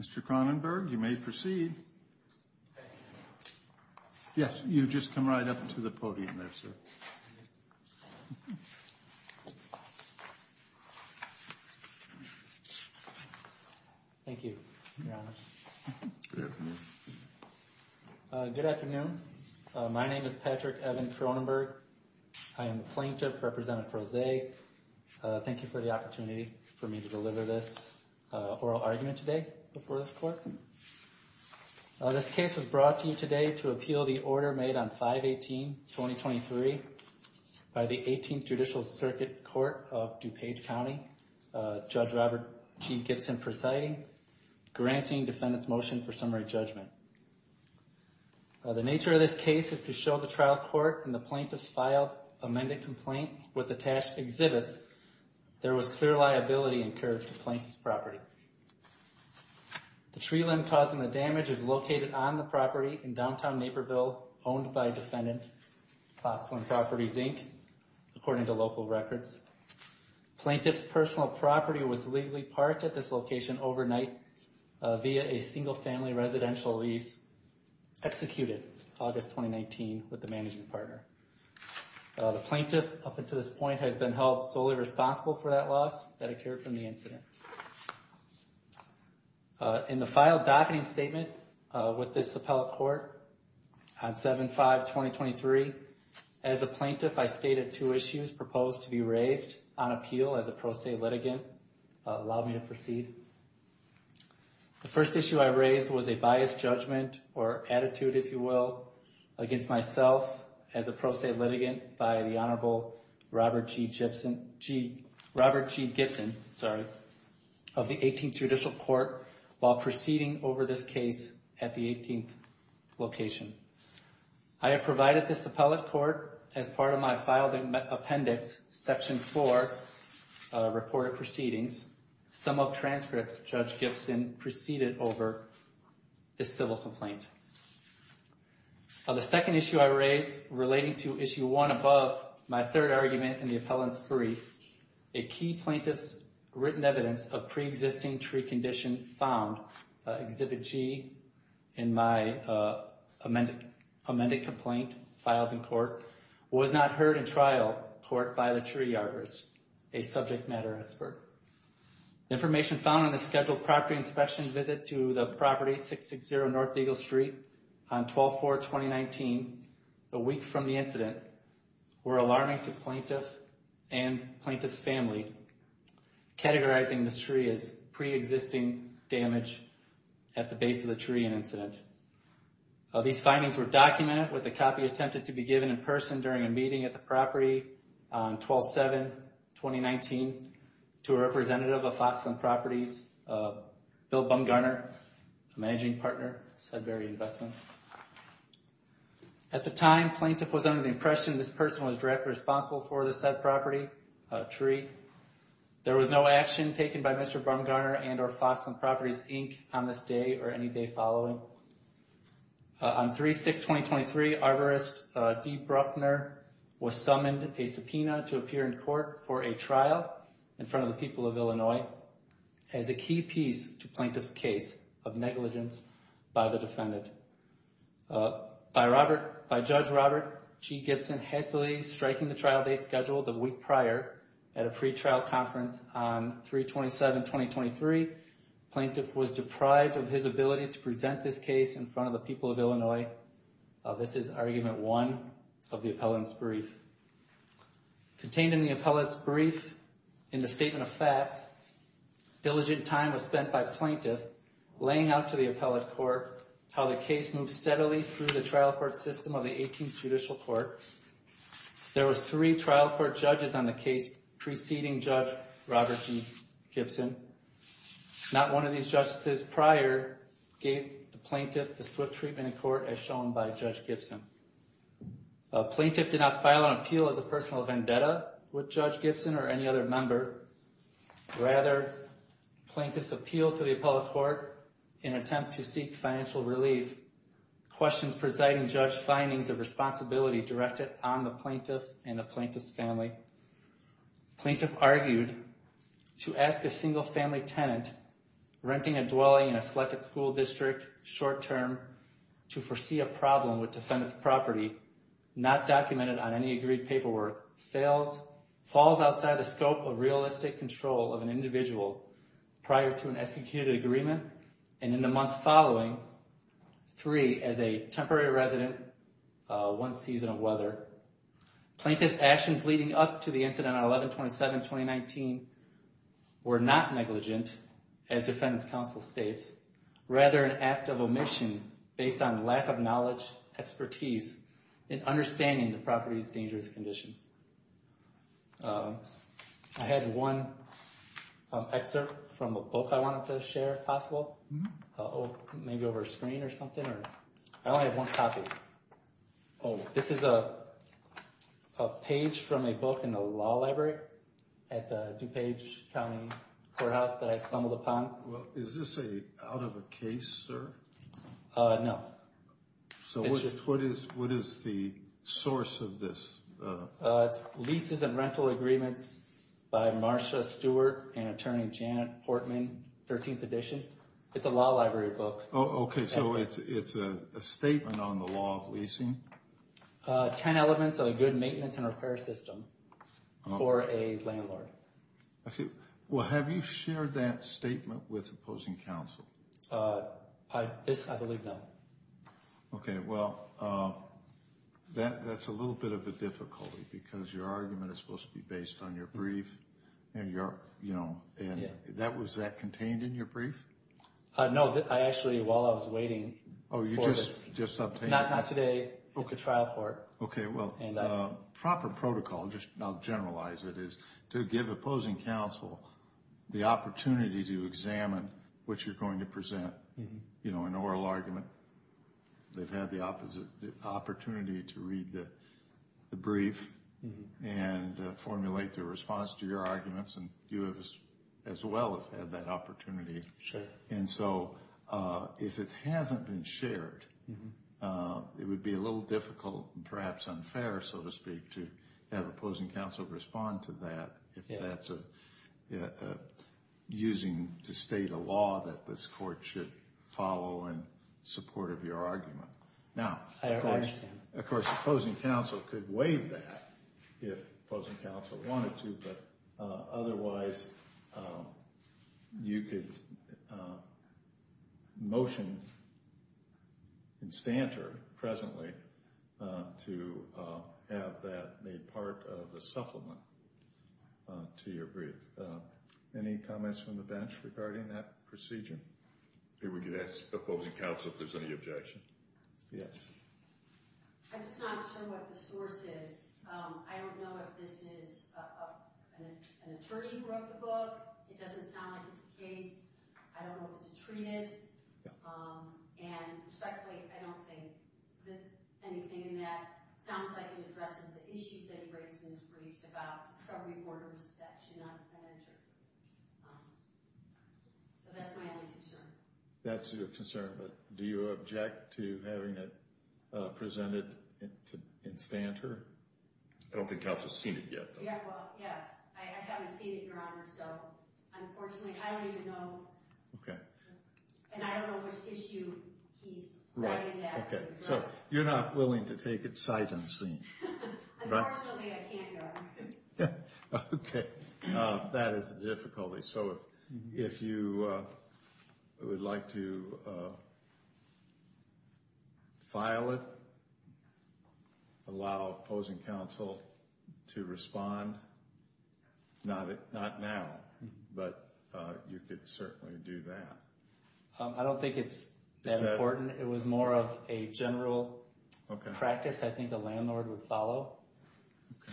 Mr. Kronenberg, you may proceed. Yes, you've just come right up to the podium there, sir. Thank you, Your Honor. Good afternoon. My name is Patrick Evan Kronenberg. I am the plaintiff, Representative Prose. Thank you for the opportunity for me to deliver this oral argument today before this court. This case was brought to you today to appeal the order made on 5-18-2023 by the 18th Judicial Circuit Court of DuPage County. Judge Robert G. Gibson presiding, granting defendant's motion for summary judgment. The nature of this case is to show the trial court and the plaintiff's filed amended complaint with attached exhibits. There was clear liability incurred to the plaintiff's property. The tree limb causing the damage is located on the property in downtown Naperville, owned by defendant, Foxland Properties, Inc., according to local records. Plaintiff's personal property was legally parked at this location overnight via a single-family residential lease, executed August 2019 with the management partner. The plaintiff, up until this point, has been held solely responsible for that loss that occurred from the incident. In the filed docketing statement with this appellate court on 7-5-2023, as a plaintiff, I stated two issues proposed to be raised on appeal as a pro se litigant. Allow me to proceed. The first issue I raised was a biased judgment or attitude, if you will, against myself as a pro se litigant by the Honorable Robert G. Gibson of the 18th Judicial Court while proceeding over this case at the 18th location. I have provided this appellate court, as part of my filed appendix, Section 4 reported proceedings, sum of transcripts Judge Gibson proceeded over this civil complaint. The second issue I raised, relating to Issue 1 above my third argument in the appellant's brief, a key plaintiff's written evidence of pre-existing tree condition found, Exhibit G, in my amended complaint filed in court, was not heard in trial court by the tree yarders, a subject matter expert. Information found on a scheduled property inspection visit to the property, 660 North Eagle Street, on 12-4-2019, a week from the incident, were alarming to plaintiff and plaintiff's family, categorizing this tree as pre-existing damage at the base of the tree and incident. These findings were documented with a copy attempted to be given in person during a meeting at the property on 12-7-2019 to a representative of Foxland Properties, Bill Bumgarner, a managing partner of Sudbury Investments. At the time, plaintiff was under the impression this person was directly responsible for the said property, tree. There was no action taken by Mr. Bumgarner and or Foxland Properties, Inc. on this day or any day following. On 3-6-2023, arborist Dee Bruckner was summoned a subpoena to appear in court for a trial in front of the people of Illinois as a key piece to plaintiff's case of negligence by the defendant. By Judge Robert G. Gibson hastily striking the trial date scheduled a week prior at a pre-trial conference on 3-27-2023, plaintiff was deprived of his ability to present this case in front of the people of Illinois. This is argument one of the appellant's brief. Contained in the appellant's brief in the Statement of Facts, diligent time was spent by plaintiff laying out to the appellant court how the case moved steadily through the trial court system of the 18th Judicial Court. There were three trial court judges on the case preceding Judge Robert G. Gibson. Not one of these judges prior gave the plaintiff the swift treatment in court as shown by Judge Gibson. Plaintiff did not file an appeal as a personal vendetta with Judge Gibson or any other member. Rather, plaintiffs appealed to the appellate court in an attempt to seek financial relief. Questions presiding judge findings of responsibility directed on the plaintiff and the plaintiff's family. Plaintiff argued to ask a single family tenant renting a dwelling in a selected school district short term to foresee a problem with defendant's property not documented on any agreed paperwork falls outside the scope of realistic control of an individual prior to an executed agreement and in the months following. Three, as a temporary resident, one season of weather. Plaintiff's actions leading up to the incident on 11-27-2019 were not negligent, as Defendant's Counsel states, rather an act of omission based on lack of knowledge, expertise, and understanding the property's dangerous conditions. I had one excerpt from a book I wanted to share if possible. Maybe over a screen or something. I only have one copy. This is a page from a book in the law library at the DuPage County Courthouse that I stumbled upon. Is this out of a case, sir? No. What is the source of this? It's Leases and Rental Agreements by Marsha Stewart and Attorney Janet Portman, 13th edition. It's a law library book. Okay, so it's a statement on the law of leasing. Ten elements of a good maintenance and repair system for a landlord. Have you shared that statement with opposing counsel? I believe not. Okay, well, that's a little bit of a difficulty because your argument is supposed to be based on your brief. Was that contained in your brief? No, actually, while I was waiting. Oh, you just obtained it? Not today, at the trial court. Okay, well, the proper protocol, just I'll generalize it, is to give opposing counsel the opportunity to examine what you're going to present. You know, an oral argument. They've had the opportunity to read the brief and formulate their response to your arguments, and you as well have had that opportunity. And so, if it hasn't been shared, it would be a little difficult, perhaps unfair, so to speak, to have opposing counsel respond to that, if that's using to state a law that this court should follow in support of your argument. I understand. Of course, opposing counsel could waive that if opposing counsel wanted to, but otherwise, you could motion in stanter presently to have that made part of the supplement to your brief. Any comments from the bench regarding that procedure? We could ask opposing counsel if there's any objection. Yes. I'm just not sure what the source is. I don't know if this is an attorney who wrote the book. It doesn't sound like it's the case. I don't know if it's a treatise. And respectfully, I don't think anything in that sounds like it addresses the issues that he raised in his briefs about discovery borders that should not penetrate. So that's my only concern. That's your concern, but do you object to having it presented in stanter? I don't think counsel's seen it yet, though. Well, yes. I haven't seen it, Your Honor, so unfortunately, I don't even know. Okay. And I don't know which issue he's citing that. So you're not willing to take it sight unseen. Unfortunately, I can't, Your Honor. Okay. That is a difficulty. So if you would like to file it, allow opposing counsel to respond, not now, but you could certainly do that. I don't think it's that important. It was more of a general practice I think the landlord would follow.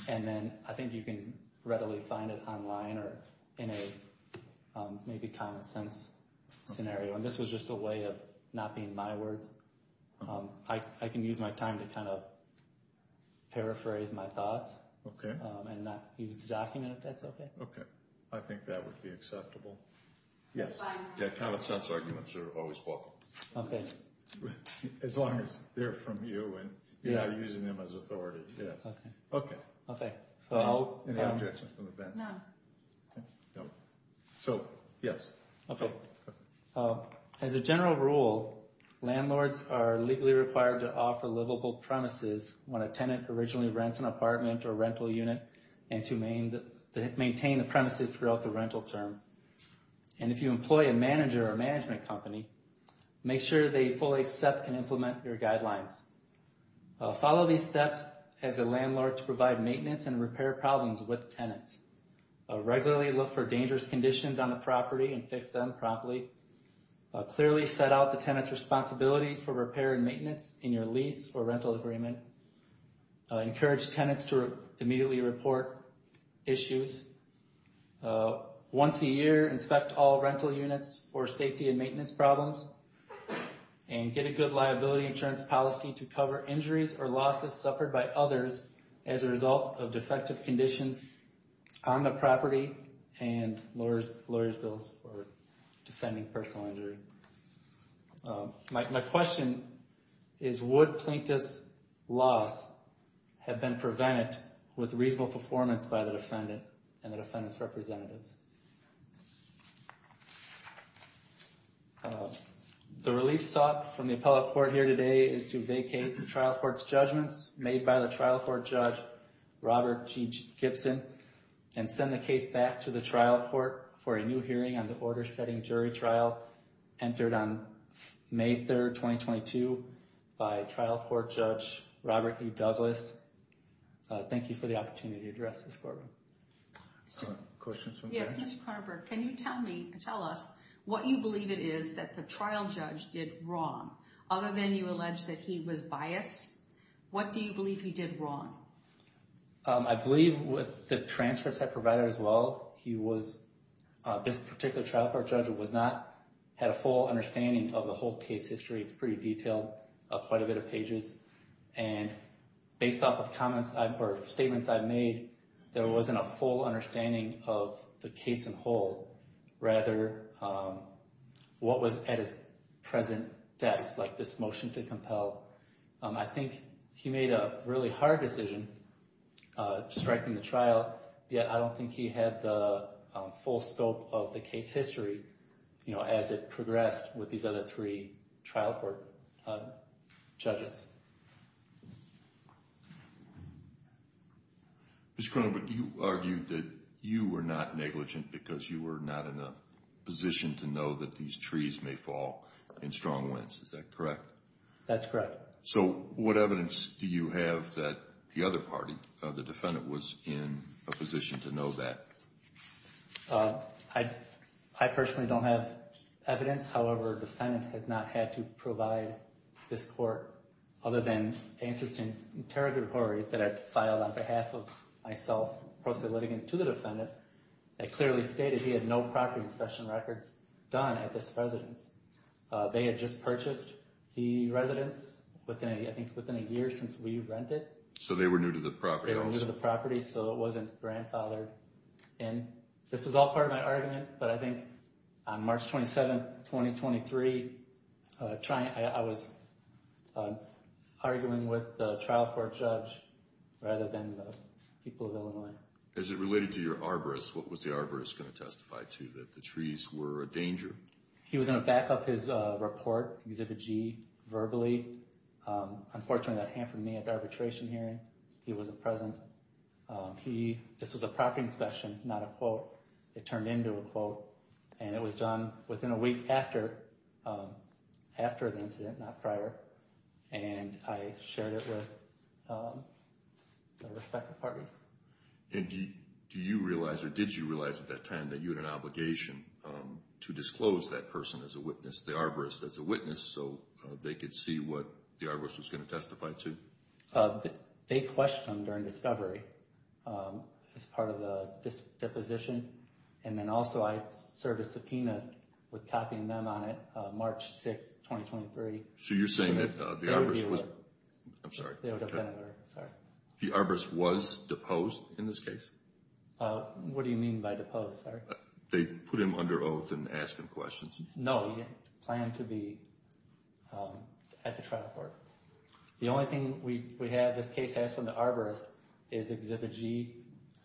Okay. And then I think you can readily find it online or in a maybe common sense scenario. And this was just a way of not being my words. I can use my time to kind of paraphrase my thoughts. Okay. And not use the document if that's okay. Okay. I think that would be acceptable. Yes. Common sense arguments are always welcome. Okay. As long as they're from you and you're not using them as authority. Okay. Any objections from the bench? No. So, yes. As a general rule, landlords are legally required to offer livable premises when a tenant originally rents an apartment or rental unit and to maintain the premises throughout the rental term. And if you employ a manager or management company, make sure they fully accept and implement your guidelines. Follow these steps as a landlord to provide maintenance and repair problems with tenants. Regularly look for dangerous conditions on the property and fix them promptly. Clearly set out the tenant's responsibilities for repair and maintenance in your lease or rental agreement. Encourage tenants to immediately report issues. Once a year, inspect all rental units for safety and maintenance problems. And get a good liability insurance policy to cover injuries or losses suffered by others as a result of defective conditions on the property and lawyer's bills for defending personal injury. My question is would plaintiff's loss have been prevented with reasonable performance by the defendant and the defendant's representatives? The release sought from the appellate court here today is to vacate the trial court's judgments made by the trial court judge, Robert G. Gibson, and send the case back to the trial court for a new hearing on the order-setting jury trial entered on May 3, 2022, by trial court judge, Robert E. Douglas. Thank you for the opportunity to address this, Corbyn. Questions from Karen? Yes, Mr. Carver. Can you tell me, tell us, what you believe it is that the trial judge did wrong? Other than you allege that he was biased, what do you believe he did wrong? I believe with the transcripts I provided as well, he was, this particular trial court judge was not, had a full understanding of the whole case history. It's pretty detailed, quite a bit of pages. And based off of comments, or statements I've made, there wasn't a full understanding of the case in whole. Rather, what was at his present desk, like this motion to compel. I think he made a really hard decision striking the trial, yet I don't think he had the full scope of the case history, you know, as it progressed with these other three trial court judges. Mr. Carver, you argued that you were not negligent because you were not in a position to know that these trees may fall in strong winds, is that correct? That's correct. So, what evidence do you have that the other party, the defendant, was in a position to know that? I personally don't have evidence, however, the defendant has not had to provide this court, other than answers to interrogatories that I've filed on behalf of myself, to the defendant, that clearly stated he had no property inspection records done at this residence. They had just purchased the residence, I think within a year since we rented. So they were new to the property? They were new to the property, so it wasn't grandfathered in. This was all part of my argument, but I think on March 27, 2023, I was arguing with the trial court judge rather than the people of Illinois. As it related to your arborist, what was the arborist going to testify to, that the trees were a danger? He was going to back up his report, Exhibit G, verbally. Unfortunately, that hampered me at the arbitration hearing. He wasn't present. This was a property inspection, not a quote. It turned into a quote, and it was done within a week after the incident, not prior, and I shared it with the respective parties. And do you realize, or did you realize at that time, that you had an obligation to disclose that person as a witness, the arborist as a witness, so they could see what the arborist was going to testify to? They questioned him during discovery as part of the deposition, and then also I served a subpoena with copying them on it March 6, 2023. So you're saying that the arborist was... I'm sorry. The arborist was deposed in this case? What do you mean by deposed, sir? They put him under oath and asked him questions. No, he didn't plan to be at the trial court. The only thing we have this case has from the arborist is Exhibit G,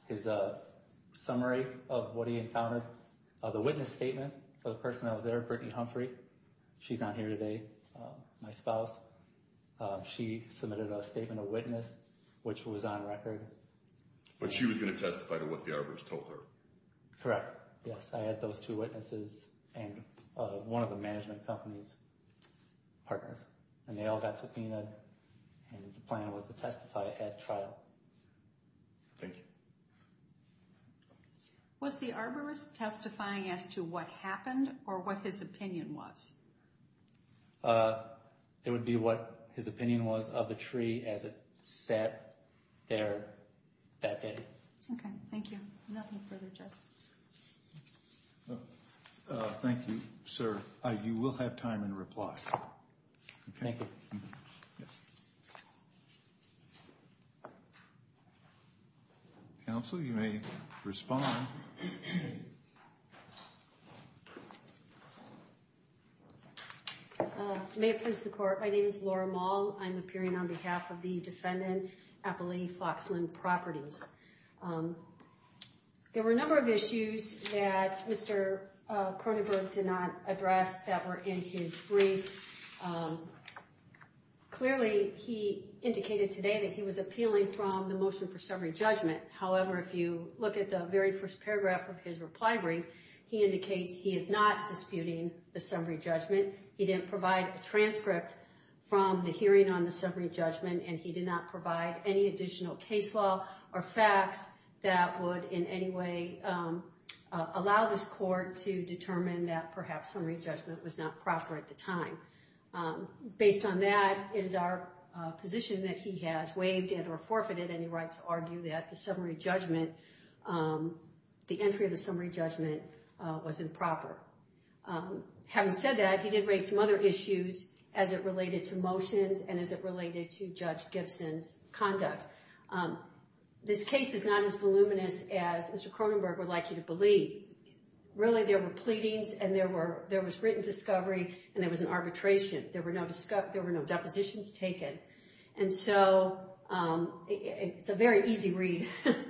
his summary of what he encountered. The witness statement for the person that was there, Brittany Humphrey, she's not here today, my spouse. She submitted a statement of witness, which was on record. But she was going to testify to what the arborist told her? Correct, yes. I had those two witnesses and one of the management company's partners, and they all got subpoenaed, and the plan was to testify at trial. Thank you. Was the arborist testifying as to what happened or what his opinion was? It would be what his opinion was of the tree as it sat there that day. Okay, thank you. Nothing further, Judge. Thank you, sir. You will have time in reply. Thank you. Counsel, you may respond. May it please the Court. My name is Laura Moll. I'm appearing on behalf of the defendant, Appali Foxland Properties. There were a number of issues that Mr. Kronenberg did not address that were in his brief. Clearly, he indicated today that he was appealing from the motion for summary judgment. However, if you look at the very first paragraph of his reply brief, he indicates he is not disputing the summary judgment. He didn't provide a transcript from the hearing on the summary judgment, and he did not provide any additional case law or facts that would in any way allow this court to determine that perhaps summary judgment was not proper at the time. Based on that, it is our position that he has waived and or forfeited any right to argue that the entry of the summary judgment was improper. Having said that, he did raise some other issues as it related to motions and as it related to Judge Gibson's conduct. This case is not as voluminous as Mr. Kronenberg would like you to believe. Really, there were pleadings, and there was written discovery, and there was an arbitration. There were no depositions taken. And so it's a very easy read,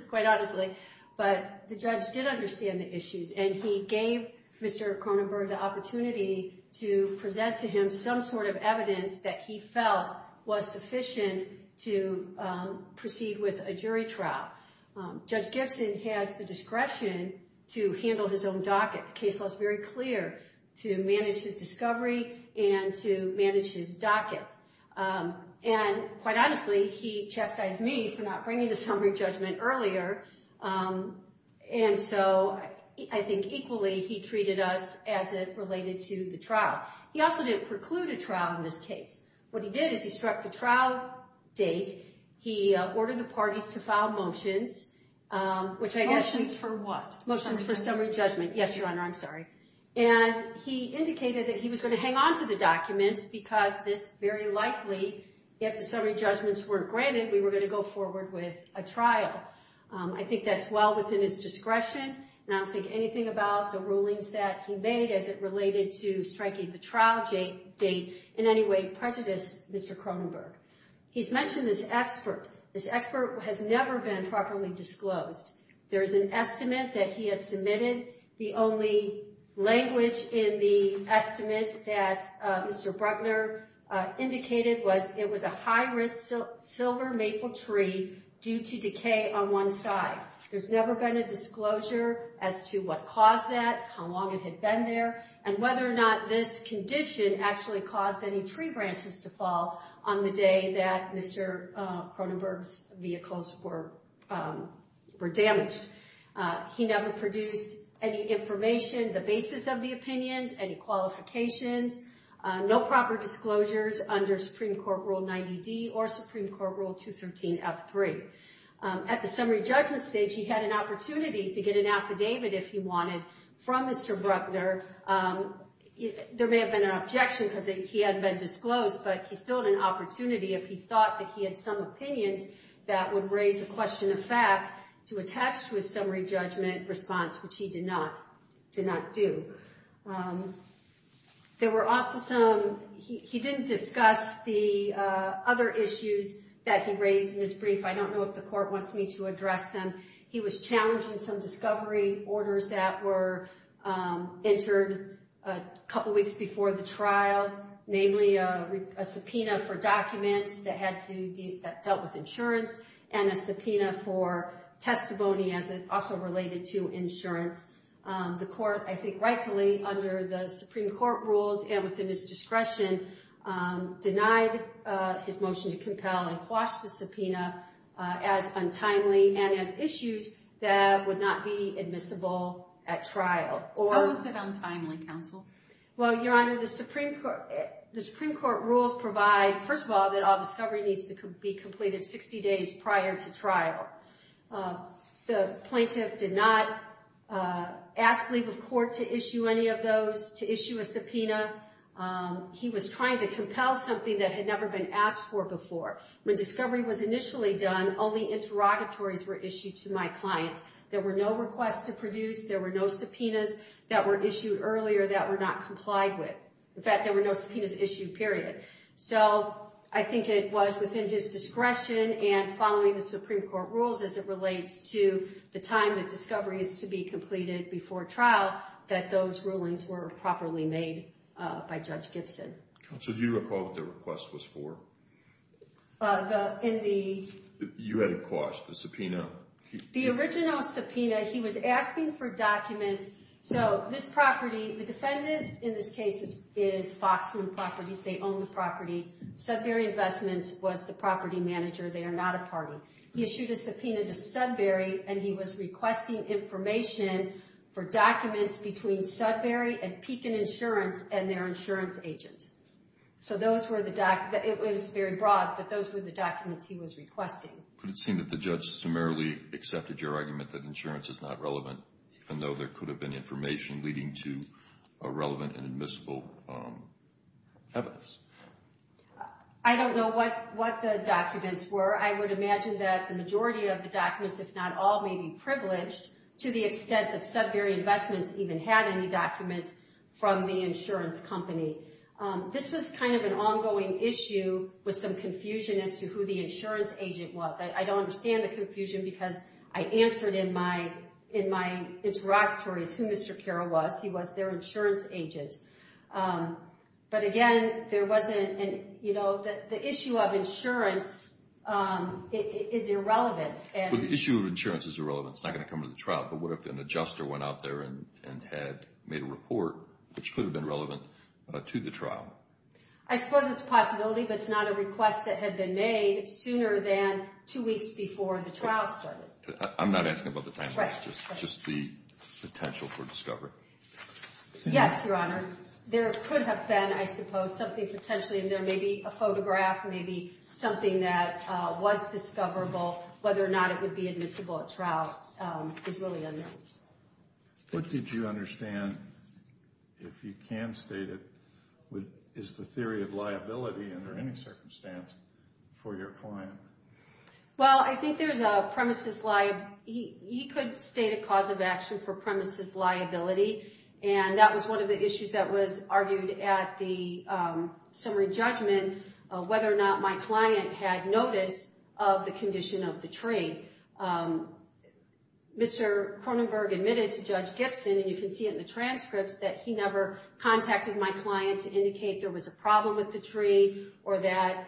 quite honestly. But the judge did understand the issues, and he gave Mr. Kronenberg the opportunity to present to him some sort of evidence that he felt was sufficient to proceed with a jury trial. Judge Gibson has the discretion to handle his own docket. The case law is very clear to manage his discovery and to manage his docket. And quite honestly, he chastised me for not bringing the summary judgment earlier, and so I think equally he treated us as it related to the trial. He also didn't preclude a trial in this case. What he did is he struck the trial date. He ordered the parties to file motions. Motions for what? Motions for summary judgment. Yes, Your Honor, I'm sorry. And he indicated that he was going to hang on to the documents because this very likely, if the summary judgments weren't granted, we were going to go forward with a trial. I think that's well within his discretion, and I don't think anything about the rulings that he made as it related to striking the trial date in any way prejudiced Mr. Kronenberg. He's mentioned this expert. This expert has never been properly disclosed. There is an estimate that he has submitted. The only language in the estimate that Mr. Bruckner indicated was it was a high-risk silver maple tree due to decay on one side. There's never been a disclosure as to what caused that, how long it had been there, and whether or not this condition actually caused any tree branches to fall on the day that Mr. Kronenberg's vehicles were damaged. He never produced any information, the basis of the opinions, any qualifications, no proper disclosures under Supreme Court Rule 90D or Supreme Court Rule 213F3. At the summary judgment stage, he had an opportunity to get an affidavit, if he wanted, from Mr. Bruckner. There may have been an objection because he hadn't been disclosed, but he still had an opportunity, if he thought that he had some opinions, that would raise a question of fact to attach to a summary judgment response, which he did not do. There were also some, he didn't discuss the other issues that he raised in his brief. I don't know if the court wants me to address them. He was challenging some discovery orders that were entered a couple weeks before the trial, namely a subpoena for documents that dealt with insurance and a subpoena for testimony as it also related to insurance. The court, I think rightfully, under the Supreme Court rules and within his discretion, denied his motion to compel and quash the subpoena as untimely and as issues that would not be admissible at trial. How was it untimely, counsel? Well, Your Honor, the Supreme Court rules provide, first of all, that all discovery needs to be completed 60 days prior to trial. The plaintiff did not ask leave of court to issue any of those, to issue a subpoena. He was trying to compel something that had never been asked for before. When discovery was initially done, only interrogatories were issued to my client. There were no requests to produce. There were no subpoenas that were issued earlier that were not complied with. In fact, there were no subpoenas issued, period. So I think it was within his discretion and following the Supreme Court rules as it relates to the time that discovery is to be completed before trial that those rulings were properly made by Judge Gibson. Counsel, do you recall what the request was for? You had it quashed, the subpoena. The original subpoena, he was asking for documents. So this property, the defendant in this case is Foxland Properties. They own the property. Sudbury Investments was the property manager. They are not a party. He issued a subpoena to Sudbury, and he was requesting information for documents between Sudbury and Pekin Insurance and their insurance agent. So those were the documents. It was very broad, but those were the documents he was requesting. Could it seem that the judge summarily accepted your argument that insurance is not relevant, even though there could have been information leading to a relevant and admissible evidence? I don't know what the documents were. I would imagine that the majority of the documents, if not all, may be privileged, to the extent that Sudbury Investments even had any documents from the insurance company. This was kind of an ongoing issue with some confusion as to who the insurance agent was. I don't understand the confusion because I answered in my interrogatories who Mr. Carroll was. He was their insurance agent. But, again, there wasn't an, you know, the issue of insurance is irrelevant. Well, the issue of insurance is irrelevant. It's not going to come to the trial. But what if an adjuster went out there and had made a report which could have been relevant to the trial? I suppose it's a possibility, but it's not a request that had been made sooner than two weeks before the trial started. I'm not asking about the time. Right. Just the potential for discovery. Yes, Your Honor. There could have been, I suppose, something potentially in there, maybe a photograph, maybe something that was discoverable. Whether or not it would be admissible at trial is really unknown. What did you understand, if you can state it, is the theory of liability under any circumstance for your client? Well, I think there's a premises liability. He could state a cause of action for premises liability. And that was one of the issues that was argued at the summary judgment of whether or not my client had notice of the condition of the tree. Mr. Kronenberg admitted to Judge Gibson, and you can see it in the transcripts, that he never contacted my client to indicate there was a problem with the tree or that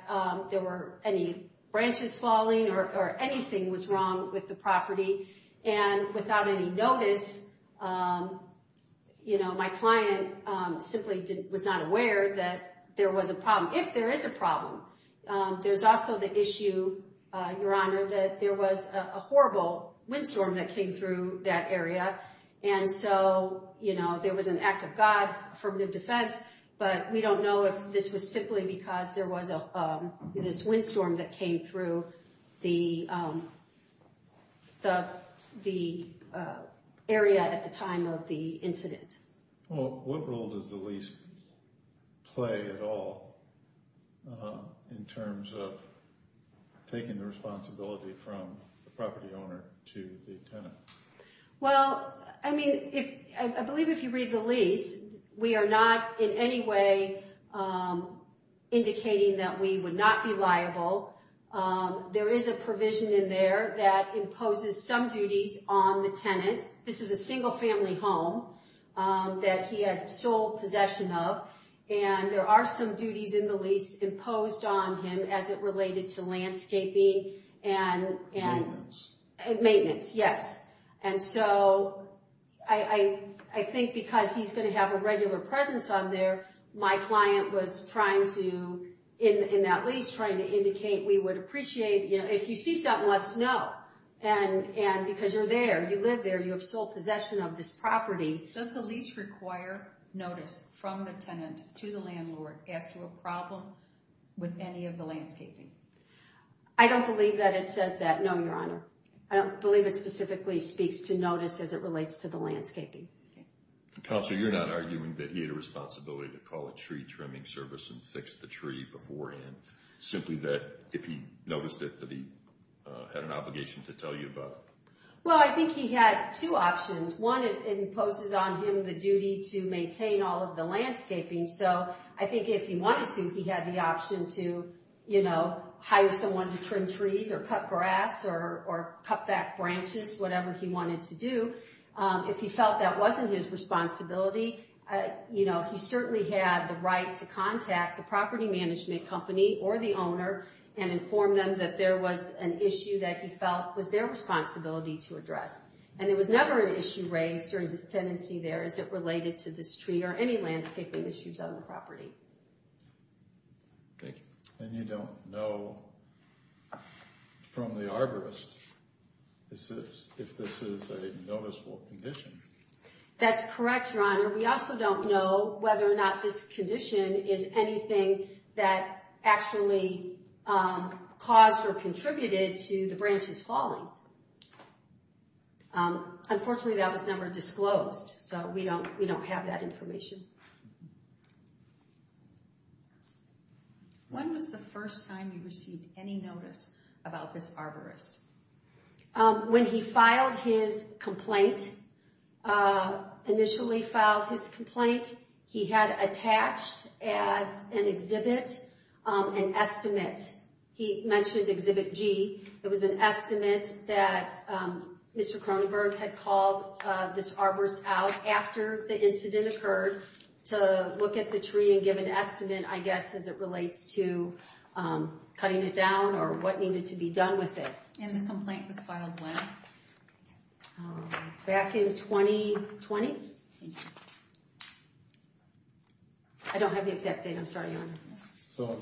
there were any branches falling or anything was wrong with the property. And without any notice, you know, my client simply was not aware that there was a problem. If there is a problem, there's also the issue, Your Honor, that there was a horrible windstorm that came through that area. And so, you know, there was an act of God, affirmative defense, but we don't know if this was simply because there was this windstorm that came through the area at the time of the incident. Well, what role does the lease play at all in terms of taking the responsibility from the property owner to the tenant? Well, I mean, I believe if you read the lease, we are not in any way indicating that we would not be liable. There is a provision in there that imposes some duties on the tenant. This is a single-family home that he had sole possession of, and there are some duties in the lease imposed on him as it related to landscaping and maintenance, yes. And so I think because he's going to have a regular presence on there, my client was trying to, in that lease, trying to indicate we would appreciate, you know, if you see something, let us know. And because you're there, you live there, you have sole possession of this property. Does the lease require notice from the tenant to the landlord as to a problem with any of the landscaping? I don't believe that it says that, no, Your Honor. I don't believe it specifically speaks to notice as it relates to the landscaping. Counselor, you're not arguing that he had a responsibility to call a tree trimming service and fix the tree beforehand, simply that if he noticed it that he had an obligation to tell you about it? Well, I think he had two options. One, it imposes on him the duty to maintain all of the landscaping, so I think if he wanted to, he had the option to, you know, hire someone to trim trees or cut grass or cut back branches, whatever he wanted to do. If he felt that wasn't his responsibility, you know, he certainly had the right to contact the property management company or the owner and inform them that there was an issue that he felt was their responsibility to address. And there was never an issue raised during this tenancy there as it related to this tree or any landscaping issues on the property. Thank you. And you don't know from the arborist if this is a noticeable condition? That's correct, Your Honor. We also don't know whether or not this condition is anything that actually caused or contributed to the branches falling. Unfortunately, that was never disclosed, so we don't have that information. When was the first time you received any notice about this arborist? When he filed his complaint, initially filed his complaint, he had attached as an exhibit an estimate. He mentioned Exhibit G. It was an estimate that Mr. Cronenberg had called this arborist out after the incident occurred to look at the tree as it relates to cutting it down or what needed to be done with it. And the complaint was filed when? Back in 2020. Thank you. I don't have the exact date, I'm sorry, Your Honor. So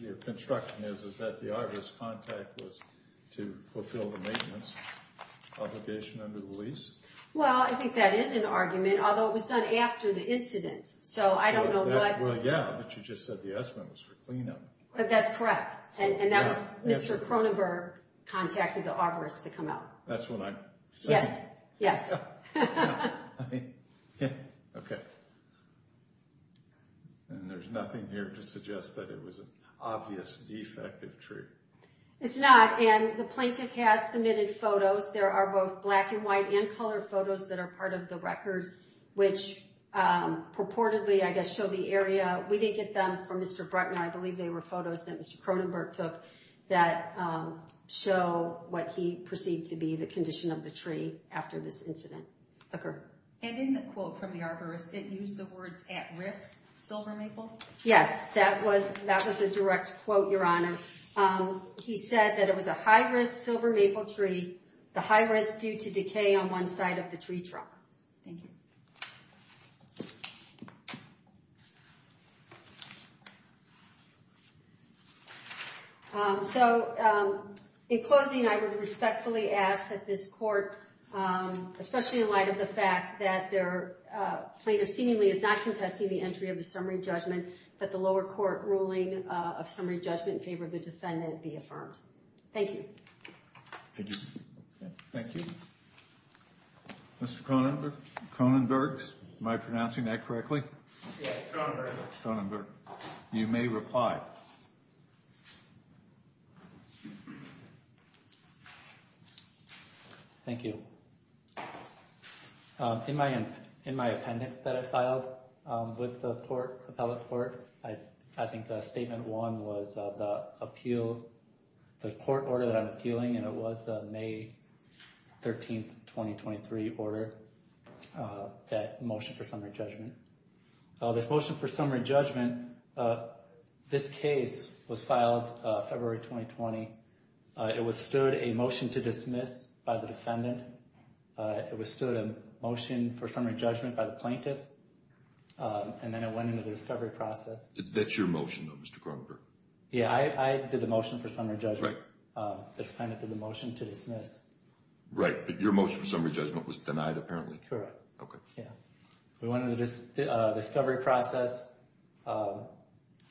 your construction is that the arborist's contact was to fulfill the maintenance obligation under the lease? Well, I think that is an argument, although it was done after the incident. So I don't know what... Well, yeah, but you just said the estimate was for cleanup. That's correct. And that was Mr. Cronenberg contacted the arborist to come out. That's what I said. Yes. Yes. Okay. And there's nothing here to suggest that it was an obvious defective tree. It's not, and the plaintiff has submitted photos. There are both black and white and color photos that are part of the record, which purportedly, I guess, show the area. We did get them from Mr. Bruckner. I believe they were photos that Mr. Cronenberg took that show what he perceived to be the condition of the tree after this incident occurred. And in the quote from the arborist, it used the words, at risk, silver maple? Yes, that was a direct quote, Your Honor. He said that it was a high-risk silver maple tree, the high risk due to decay on one side of the tree trunk. Thank you. So in closing, I would respectfully ask that this court, especially in light of the fact that their plaintiff seemingly is not contesting the entry of a summary judgment, that the lower court ruling of summary judgment in favor of the defendant be affirmed. Thank you. Thank you. Mr. Cronenberg, am I pronouncing that correctly? Yes, Cronenberg. Cronenberg. You may reply. Thank you. In my appendix that I filed with the court, appellate court, I think the statement one was the appeal, the court order that I'm appealing, and it was the May 13th, 2023 order, that motion for summary judgment. This motion for summary judgment, this case was filed February 2020. It withstood a motion to dismiss by the defendant. It withstood a motion for summary judgment by the plaintiff, and then it went into the discovery process. That's your motion, though, Mr. Cronenberg? Yeah, I did the motion for summary judgment. The defendant did the motion to dismiss. Right, but your motion for summary judgment was denied, apparently. Correct. Okay. Yeah. We went into the discovery process.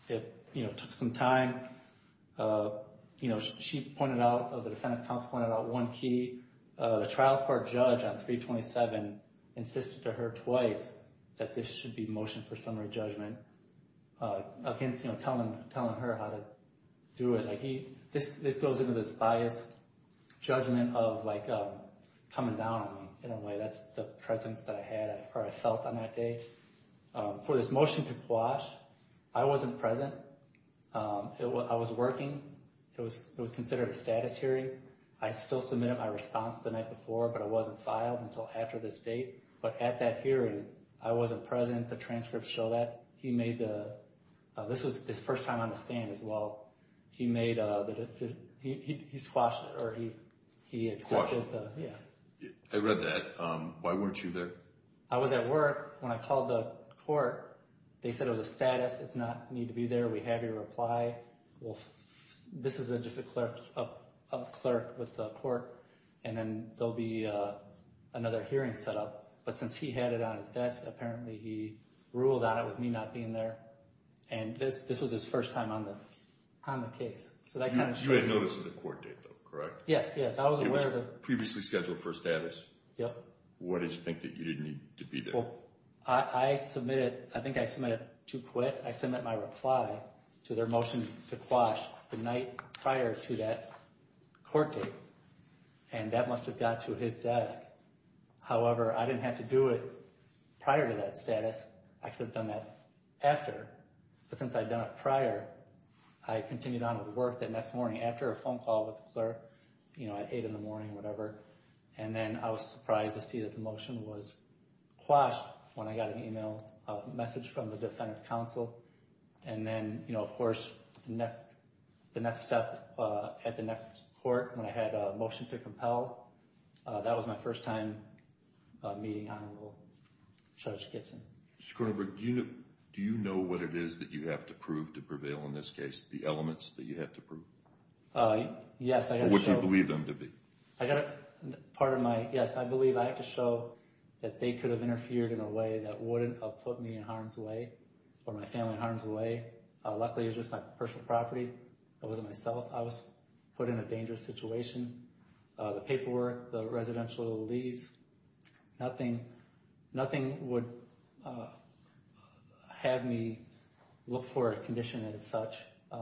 It, you know, took some time. You know, she pointed out, the defendant's counsel pointed out one key. The trial court judge on 327 insisted to her twice that this should be motion for summary judgment against, you know, telling her how to do it. This goes into this biased judgment of, like, coming down on me in a way. That's the presence that I had or I felt on that day. For this motion to quash, I wasn't present. I was working. It was considered a status hearing. I still submitted my response the night before, but it wasn't filed until after this date. But at that hearing, I wasn't present. The transcripts show that. This was his first time on the stand as well. He made a, he squashed it, or he accepted the, yeah. I read that. Why weren't you there? I was at work. When I called the court, they said it was a status. It's not need to be there. We have your reply. Well, this is just a clerk with the court, and then there'll be another hearing set up. But since he had it on his desk, apparently he ruled on it with me not being there. And this was his first time on the case. You had notice of the court date, though, correct? Yes, yes. I was aware of it. It was previously scheduled for status? Yep. Why did you think that you didn't need to be there? Well, I submitted, I think I submitted to quit. I submitted my reply to their motion to quash the night prior to that court date. And that must have got to his desk. However, I didn't have to do it prior to that status. I could have done that after. But since I'd done it prior, I continued on with work the next morning after a phone call with the clerk, you know, at 8 in the morning or whatever. And then I was surprised to see that the motion was quashed when I got an email message from the defendant's counsel. And then, you know, of course, the next step at the next court when I had a motion to compel, that was my first time meeting Honorable Judge Gibson. Mr. Kronenberg, do you know what it is that you have to prove to prevail in this case, the elements that you have to prove? Yes, I have to show. What do you believe them to be? I got to, part of my, yes, I believe I have to show that they could have interfered in a way that wouldn't have put me in harm's way or my family in harm's way. Luckily, it was just my personal property. It wasn't myself. I was put in a dangerous situation. The paperwork, the residential lease, nothing would have me look for a condition as such.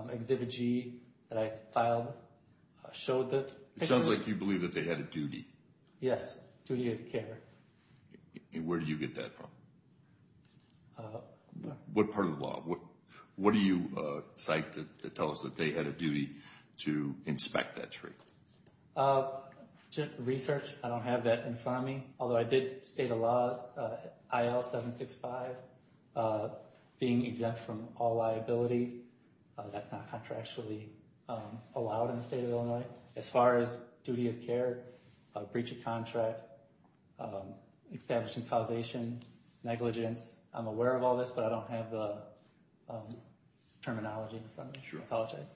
Exhibit G that I filed showed that. It sounds like you believe that they had a duty. Yes, duty of care. And where do you get that from? What part of the law? What do you cite that tells us that they had a duty to inspect that tree? Research. I don't have that in front of me, although I did state a law, IL-765, being exempt from all liability. That's not contractually allowed in the state of Illinois. As far as duty of care, breach of contract, establishing causation, negligence, I'm aware of all this, but I don't have the terminology in front of me. Sure. I apologize.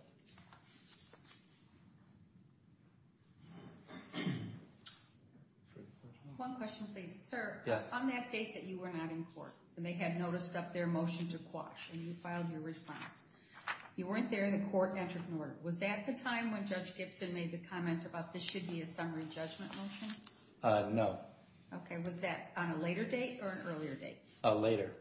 One question, please. Sir? Yes. On that date that you were not in court and they had noticed up their motion to quash and you filed your response, you weren't there and the court entered an order. Was that the time when Judge Gibson made the comment about this should be a summary judgment motion? No. Okay. And was that on a later date or an earlier date? A later.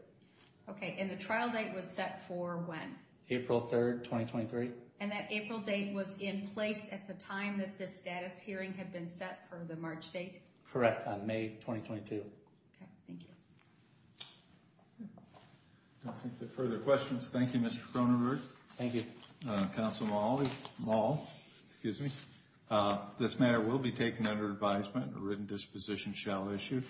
Okay. And the trial date was set for when? April 3rd, 2023. And that April date was in place at the time that the status hearing had been set for the March date? Correct. On May 2022. Okay. Thank you. No further questions. Thank you, Mr. Cronenberg. Thank you. Counsel Moll, excuse me. This matter will be taken under advisement. A written disposition shall issue.